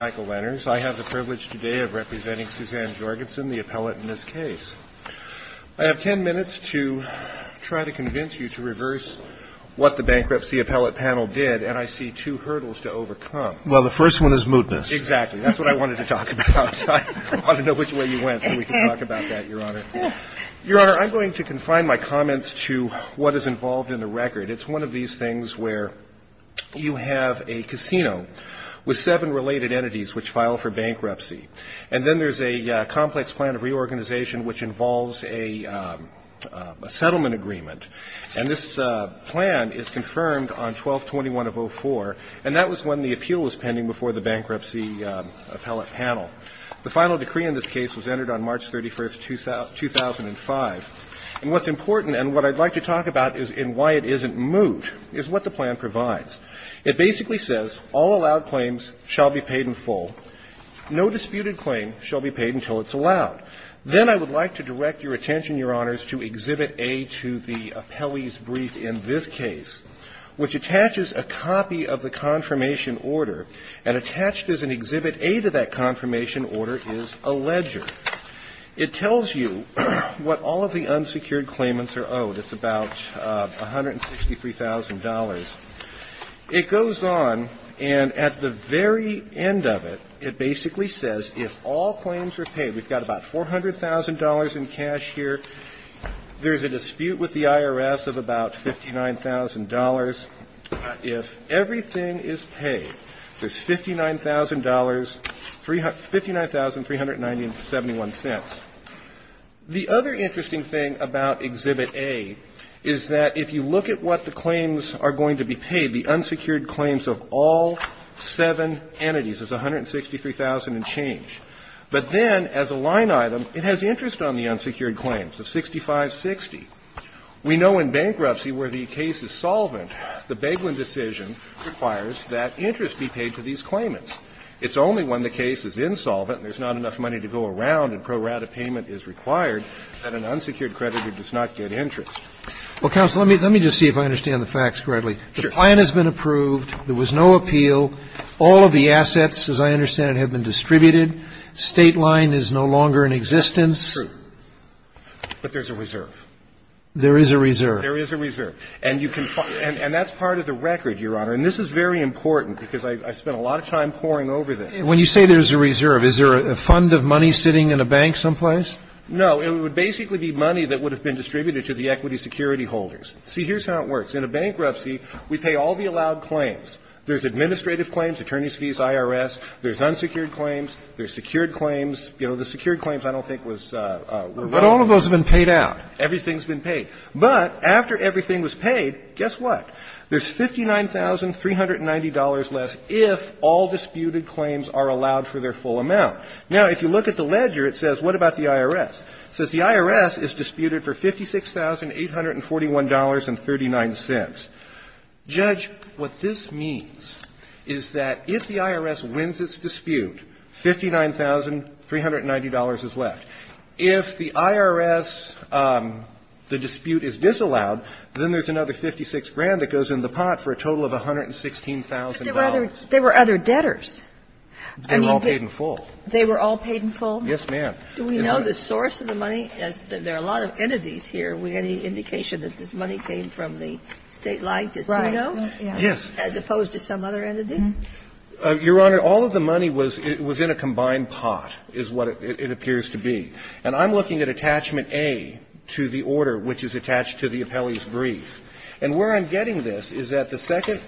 I have the privilege today of representing Suzanne Jorgenson, the appellate in this case. I have 10 minutes to try to convince you to reverse what the bankruptcy appellate panel did, and I see two hurdles to overcome. Well, the first one is mootness. Exactly. That's what I wanted to talk about. I want to know which way you went so we can talk about that, Your Honor. Your Honor, I'm going to confine my comments to what is involved in the record. It's one of these things where you have a casino with seven related entities which file for bankruptcy, and then there's a complex plan of reorganization which involves a settlement agreement. And this plan is confirmed on 12-21 of 04, and that was when the appeal was pending before the bankruptcy appellate panel. The final decree in this case was entered on March 31, 2005. And what's important, and what I'd like to talk about in why it isn't moot, is what the plan provides. It basically says all allowed claims shall be paid in full. No disputed claim shall be paid until it's allowed. Then I would like to direct your attention, Your Honors, to Exhibit A to the appellee's brief in this case, which attaches a copy of the confirmation order, and attached as an Exhibit A to that confirmation order is a ledger. It tells you what all of the unsecured claimants are owed. It's about $163,000. It goes on, and at the very end of it, it basically says if all claims are paid, we've got about $400,000 in cash here. There's a dispute with the IRS of about $59,000. If everything is paid, there's $59,000, $59,390, and $57,000. The other interesting thing about Exhibit A is that if you look at what the claims are going to be paid, the unsecured claims of all seven entities is $163,000 and change. But then, as a line item, it has interest on the unsecured claims of $65,60. We know in bankruptcy where the case is solvent, the Beglin decision requires that interest be paid to these claimants. It's only when the case is insolvent and there's not enough money to go around and pro rata payment is required that an unsecured creditor does not get interest. Well, counsel, let me just see if I understand the facts correctly. The plan has been approved. There was no appeal. All of the assets, as I understand it, have been distributed. State line is no longer in existence. That's true. But there's a reserve. There is a reserve. There is a reserve. And you can find – and that's part of the record, Your Honor. And this is very important because I spent a lot of time poring over this. When you say there's a reserve, is there a fund of money sitting in a bank someplace? No. It would basically be money that would have been distributed to the equity security holders. See, here's how it works. In a bankruptcy, we pay all the allowed claims. There's administrative claims, attorney's fees, IRS. There's unsecured claims. There's secured claims. You know, the secured claims I don't think was revoked. But all of those have been paid out. Everything's been paid. But after everything was paid, guess what? There's $59,390 less if all disputed claims are allowed for their full amount. Now, if you look at the ledger, it says, what about the IRS? It says the IRS is disputed for $56,841.39. Judge, what this means is that if the IRS wins its dispute, $59,390 is left. If the IRS, the dispute is disallowed, then there's another $56,000 that goes in the pot for a total of $116,000. But there were other debtors. They were all paid in full. They were all paid in full? Yes, ma'am. Do we know the source of the money? There are a lot of entities here. Any indication that this money came from the state line, does he know? Yes. As opposed to some other entity? Your Honor, all of the money was in a combined pot is what it appears to be. And I'm looking at Attachment A to the order which is attached to the appellee's brief. And where I'm getting this is that the second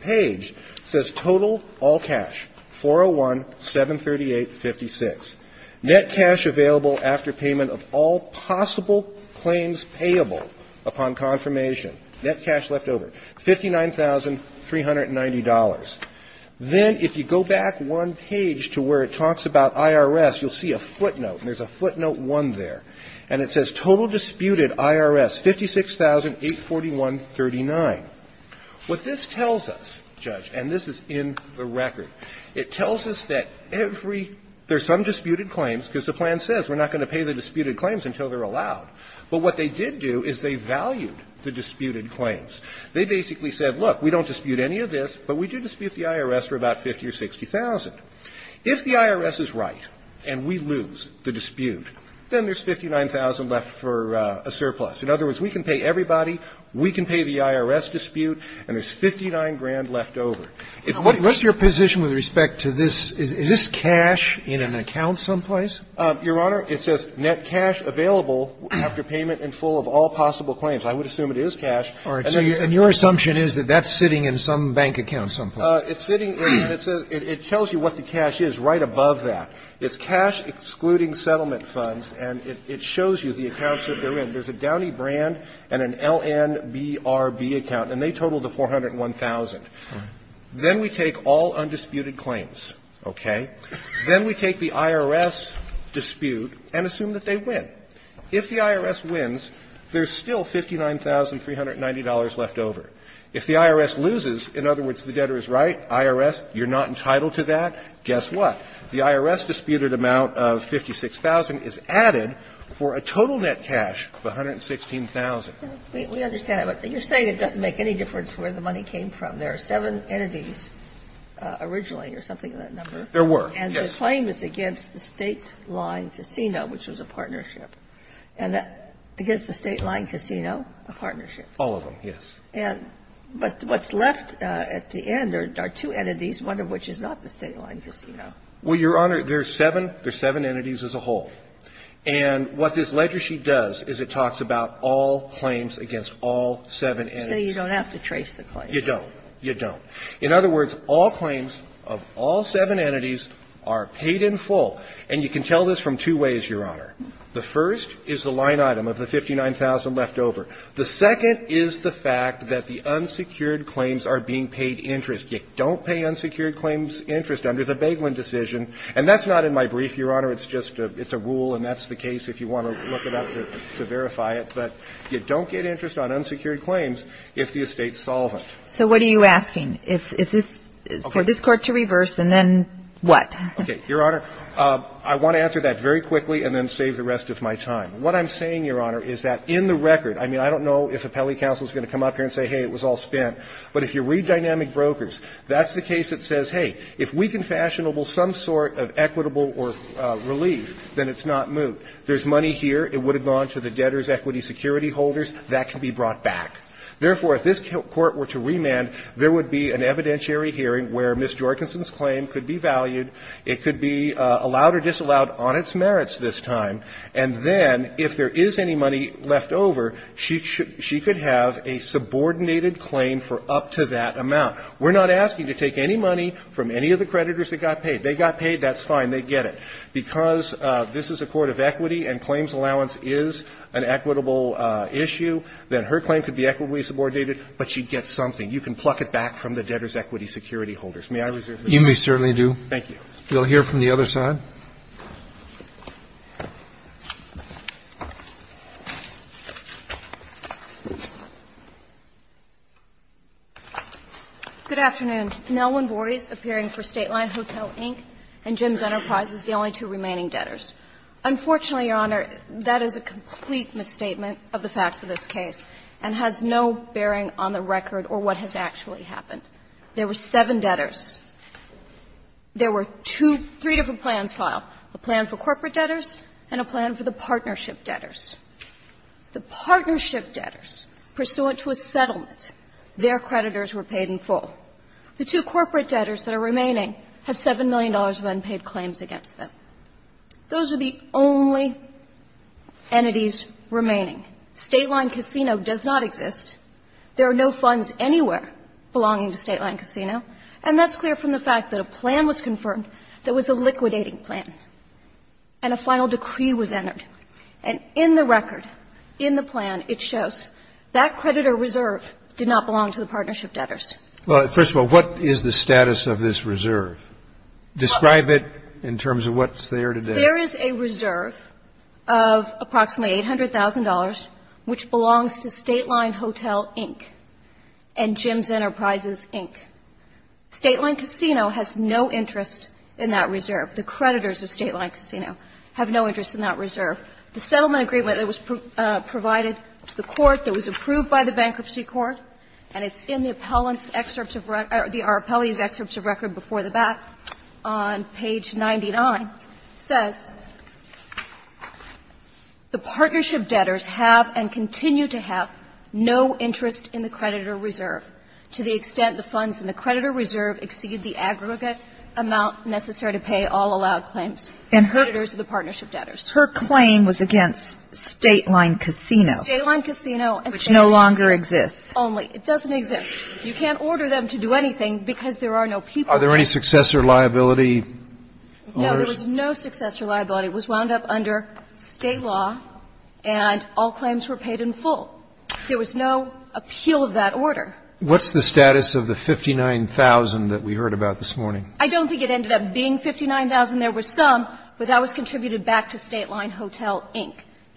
page says total, all cash, 401-738-56. Net cash available after payment of all possible claims payable upon confirmation. Net cash left over, $59,390. Then if you go back one page to where it talks about IRS, you'll see a footnote. And there's a footnote 1 there. And it says total disputed IRS, 56,841.39. What this tells us, Judge, and this is in the record, it tells us that every – there are some disputed claims because the plan says we're not going to pay the disputed claims until they're allowed. But what they did do is they valued the disputed claims. They basically said, look, we don't dispute any of this, but we do dispute the IRS for about 50 or 60,000. If the IRS is right and we lose the dispute, then there's 59,000 left for a surplus. In other words, we can pay everybody, we can pay the IRS dispute, and there's If we lose the dispute, there's 59,000 left for a surplus. Roberts, what's your position with respect to this? Is this cash in an account someplace? Your Honor, it says net cash available after payment and full of all possible claims. I would assume it is cash. And your assumption is that that's sitting in some bank account someplace. It's sitting – it tells you what the cash is right above that. It's cash excluding settlement funds, and it shows you the accounts that they're in. There's a Downey Brand and an LNBRB account, and they total the 401,000. Then we take all undisputed claims, okay? Then we take the IRS dispute and assume that they win. If the IRS wins, there's still $59,390 left over. If the IRS loses, in other words, the debtor is right, IRS, you're not entitled to that, guess what? The IRS disputed amount of 56,000 is added for a total net cash of 116,000. We understand that, but you're saying it doesn't make any difference where the money came from. There are seven entities originally or something of that number. There were, yes. And the claim is against the State Line Casino, which was a partnership. And against the State Line Casino, a partnership. All of them, yes. And – but what's left at the end are two entities, one of which is not the State Line Casino. Well, Your Honor, there's seven. There's seven entities as a whole. And what this ledger sheet does is it talks about all claims against all seven entities. So you don't have to trace the claim. You don't. You don't. In other words, all claims of all seven entities are paid in full. And you can tell this from two ways, Your Honor. The first is the line item of the 59,000 left over. The second is the fact that the unsecured claims are being paid interest. You don't pay unsecured claims interest under the Baiglin decision. And that's not in my brief, Your Honor. It's just a rule, and that's the case if you want to look it up to verify it. But you don't get interest on unsecured claims if the estate's solvent. So what are you asking? Is this for this Court to reverse, and then what? Okay. Your Honor, I want to answer that very quickly and then save the rest of my time. What I'm saying, Your Honor, is that in the record, I mean, I don't know if Appellee Counsel is going to come up here and say, hey, it was all spent. But if you read Dynamic Brokers, that's the case that says, hey, if we can fashion some sort of equitable relief, then it's not moot. There's money here. It would have gone to the debtor's equity security holders. That can be brought back. Therefore, if this Court were to remand, there would be an evidentiary hearing where Ms. Jorgensen's claim could be valued. It could be allowed or disallowed on its merits this time. And then if there is any money left over, she could have a subordinated claim for up to that amount. We're not asking to take any money from any of the creditors that got paid. They got paid, that's fine. They get it. Because this is a court of equity and claims allowance is an equitable issue, then her claim could be equitably subordinated, but she gets something. You can pluck it back from the debtor's equity security holders. May I reserve the floor? Roberts, You may certainly do. Thank you. We'll hear from the other side. Good afternoon. Nelwynn Borries, appearing for Stateline Hotel, Inc., and Jim's Enterprises, the only two remaining debtors. Unfortunately, Your Honor, that is a complete misstatement of the facts of this case and has no bearing on the record or what has actually happened. There were seven debtors. There were two or three different plans filed, a plan for corporate debtors and a plan for the partnership debtors. The partnership debtors, pursuant to a settlement, their creditors were paid in full. The two corporate debtors that are remaining have $7 million of unpaid claims against them. Those are the only entities remaining. Stateline Casino does not exist. There are no funds anywhere belonging to Stateline Casino. And that's clear from the fact that a plan was confirmed that was a liquidating plan and a final decree was entered. And in the record, in the plan, it shows that creditor reserve did not belong to the partnership debtors. Well, first of all, what is the status of this reserve? Describe it in terms of what's there today. There is a reserve of approximately $800,000, which belongs to Stateline Hotel, Inc. and Jim's Enterprises, Inc. Stateline Casino has no interest in that reserve. The creditors of Stateline Casino have no interest in that reserve. The settlement agreement that was provided to the court that was approved by the Bankruptcy Court, and it's in the appellant's excerpts of record or the appellee's excerpts of record before the back on page 99, says, The partnership debtors have and continue to have no interest in the creditor reserve to the extent the funds in the creditor reserve exceed the aggregate amount necessary to pay all allowed claims to the partnership debtors. And her claim was against Stateline Casino. Stateline Casino, which exists only. It doesn't exist. You can't order them to do anything because there are no people. Are there any successor liability orders? No. There was no successor liability. It was wound up under State law, and all claims were paid in full. There was no appeal of that order. What's the status of the 59,000 that we heard about this morning? I don't think it ended up being 59,000. There were some, but that was contributed back to Stateline Hotel, Inc.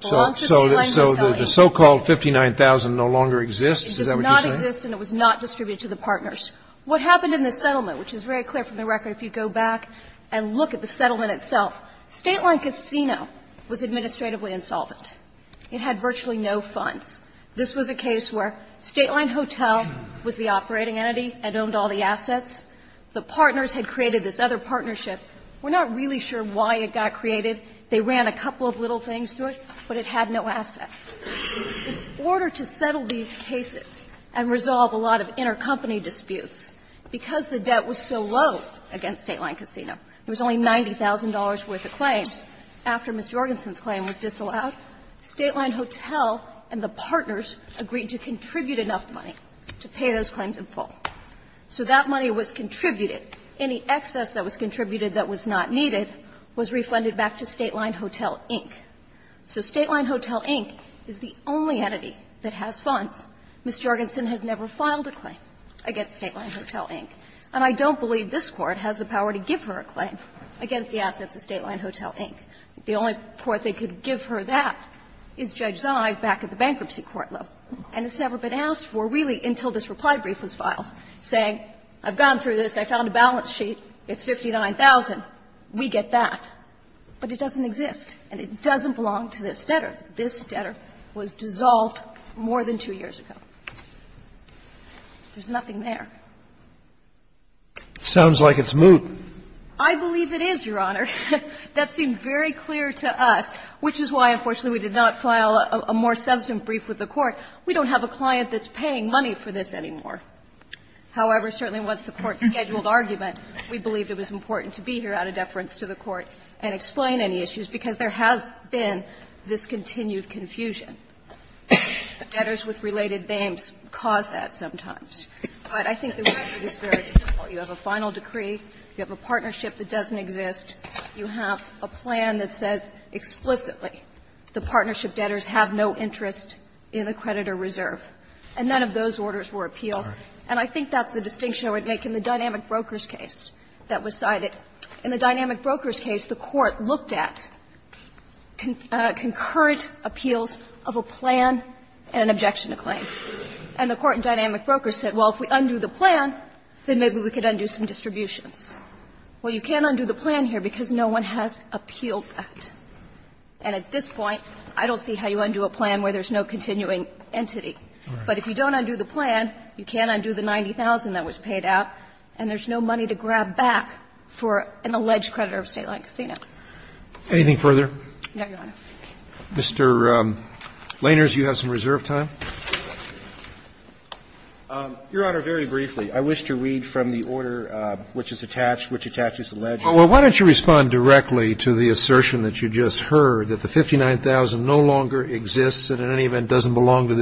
So the so-called 59,000 no longer exists? Is that what you're saying? It does not exist, and it was not distributed to the partners. What happened in the settlement, which is very clear from the record if you go back and look at the settlement itself, Stateline Casino was administratively insolvent. It had virtually no funds. This was a case where Stateline Hotel was the operating entity and owned all the assets. The partners had created this other partnership. We're not really sure why it got created. They ran a couple of little things through it, but it had no assets. In order to settle these cases and resolve a lot of intercompany disputes, because the debt was so low against Stateline Casino, there was only $90,000 worth of claims After Ms. Jorgensen's claim was disallowed, Stateline Hotel and the partners agreed to contribute enough money to pay those claims in full. So that money was contributed. Any excess that was contributed that was not needed was refunded back to Stateline Hotel, Inc. So Stateline Hotel, Inc. is the only entity that has funds. Ms. Jorgensen has never filed a claim against Stateline Hotel, Inc., and I don't believe this Court has the power to give her a claim against the assets of Stateline Hotel, Inc. The only court they could give her that is Judge Zive back at the bankruptcy court level. And it's never been asked for, really, until this reply brief was filed, saying, I've gone through this, I found a balance sheet, it's $59,000, we get that. But it doesn't exist, and it doesn't belong to this debtor. This debtor was dissolved more than two years ago. There's nothing there. It sounds like it's moot. I believe it is, Your Honor. That seemed very clear to us, which is why, unfortunately, we did not file a more substantive brief with the Court. We don't have a client that's paying money for this anymore. However, certainly once the Court scheduled argument, we believed it was important to be here out of deference to the Court and explain any issues, because there has been this continued confusion. Debtors with related names cause that sometimes. But I think the reality is very simple. You have a final decree, you have a partnership that doesn't exist, you have a plan that says explicitly the partnership debtors have no interest in the creditor reserve. And none of those orders were appealed. And I think that's the distinction I would make in the Dynamic Brokers case that was cited. In the Dynamic Brokers case, the Court looked at concurrent appeals of a plan and an objection to claim. And the Court in Dynamic Brokers said, well, if we undo the plan, then maybe we could undo some distributions. Well, you can't undo the plan here because no one has appealed that. And at this point, I don't see how you undo a plan where there's no continuing entity. But if you don't undo the plan, you can't undo the 90,000 that was paid out, and there's no money to grab back for an alleged creditor of a state-owned casino. Anything further? No, Your Honor. Mr. Laners, you have some reserve time. Your Honor, very briefly, I wish to read from the order which is attached, which attaches the alleged creditors. Well, why don't you respond directly to the assertion that you just heard, that the 59,000 no longer exists and in any event doesn't belong to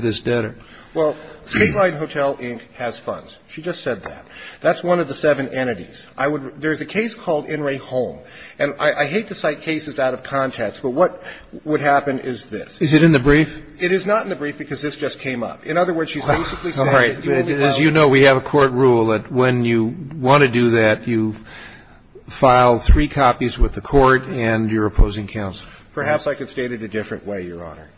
this debtor? Well, Statewide Hotel, Inc. has funds. She just said that. That's one of the seven entities. I would – there's a case called In Re Home. And I hate to cite cases out of context, but what would happen is this. Is it in the brief? It is not in the brief because this just came up. In other words, she's basically saying that you only file – As you know, we have a court rule that when you want to do that, you file three copies with the court and your opposing counsel. Perhaps I could state it a different way, Your Honor.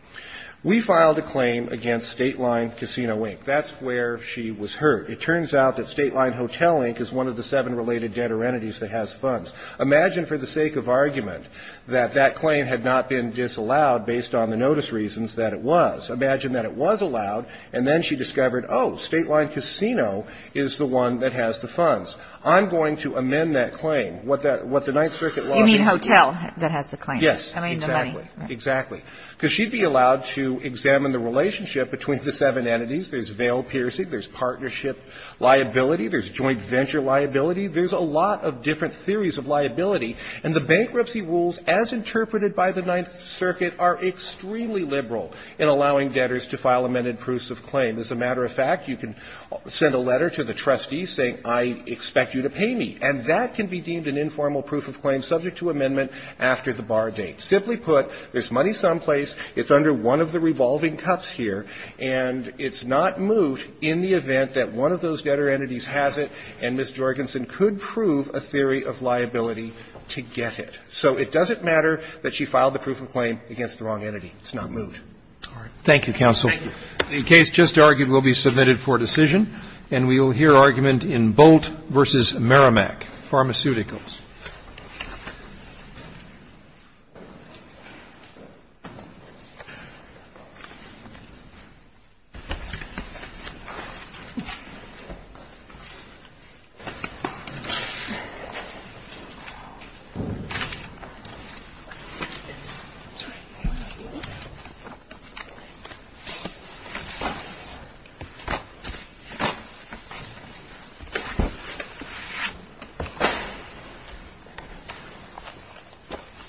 We filed a claim against Stateline Casino, Inc. That's where she was hurt. It turns out that Stateline Hotel, Inc. is one of the seven related debtor entities that has funds. Imagine for the sake of argument that that claim had not been disallowed based on the various reasons that it was. Imagine that it was allowed, and then she discovered, oh, Stateline Casino is the one that has the funds. I'm going to amend that claim. What the Ninth Circuit law – You mean hotel that has the claim. Yes. I mean the money. Exactly. Because she'd be allowed to examine the relationship between the seven entities. There's veil piercing. There's partnership liability. There's joint venture liability. There's a lot of different theories of liability. And the bankruptcy rules as interpreted by the Ninth Circuit are extremely liberal in allowing debtors to file amended proofs of claim. As a matter of fact, you can send a letter to the trustee saying, I expect you to pay me, and that can be deemed an informal proof of claim subject to amendment after the bar date. Simply put, there's money someplace, it's under one of the revolving cups here, and it's not moved in the event that one of those debtor entities has it, and Ms. to get it. So it doesn't matter that she filed the proof of claim against the wrong entity. It's not moved. Thank you, counsel. The case just argued will be submitted for decision, and we will hear argument in Bolt v. Merrimack, Pharmaceuticals.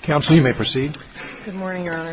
Counsel, you may proceed. Good morning, Your Honor.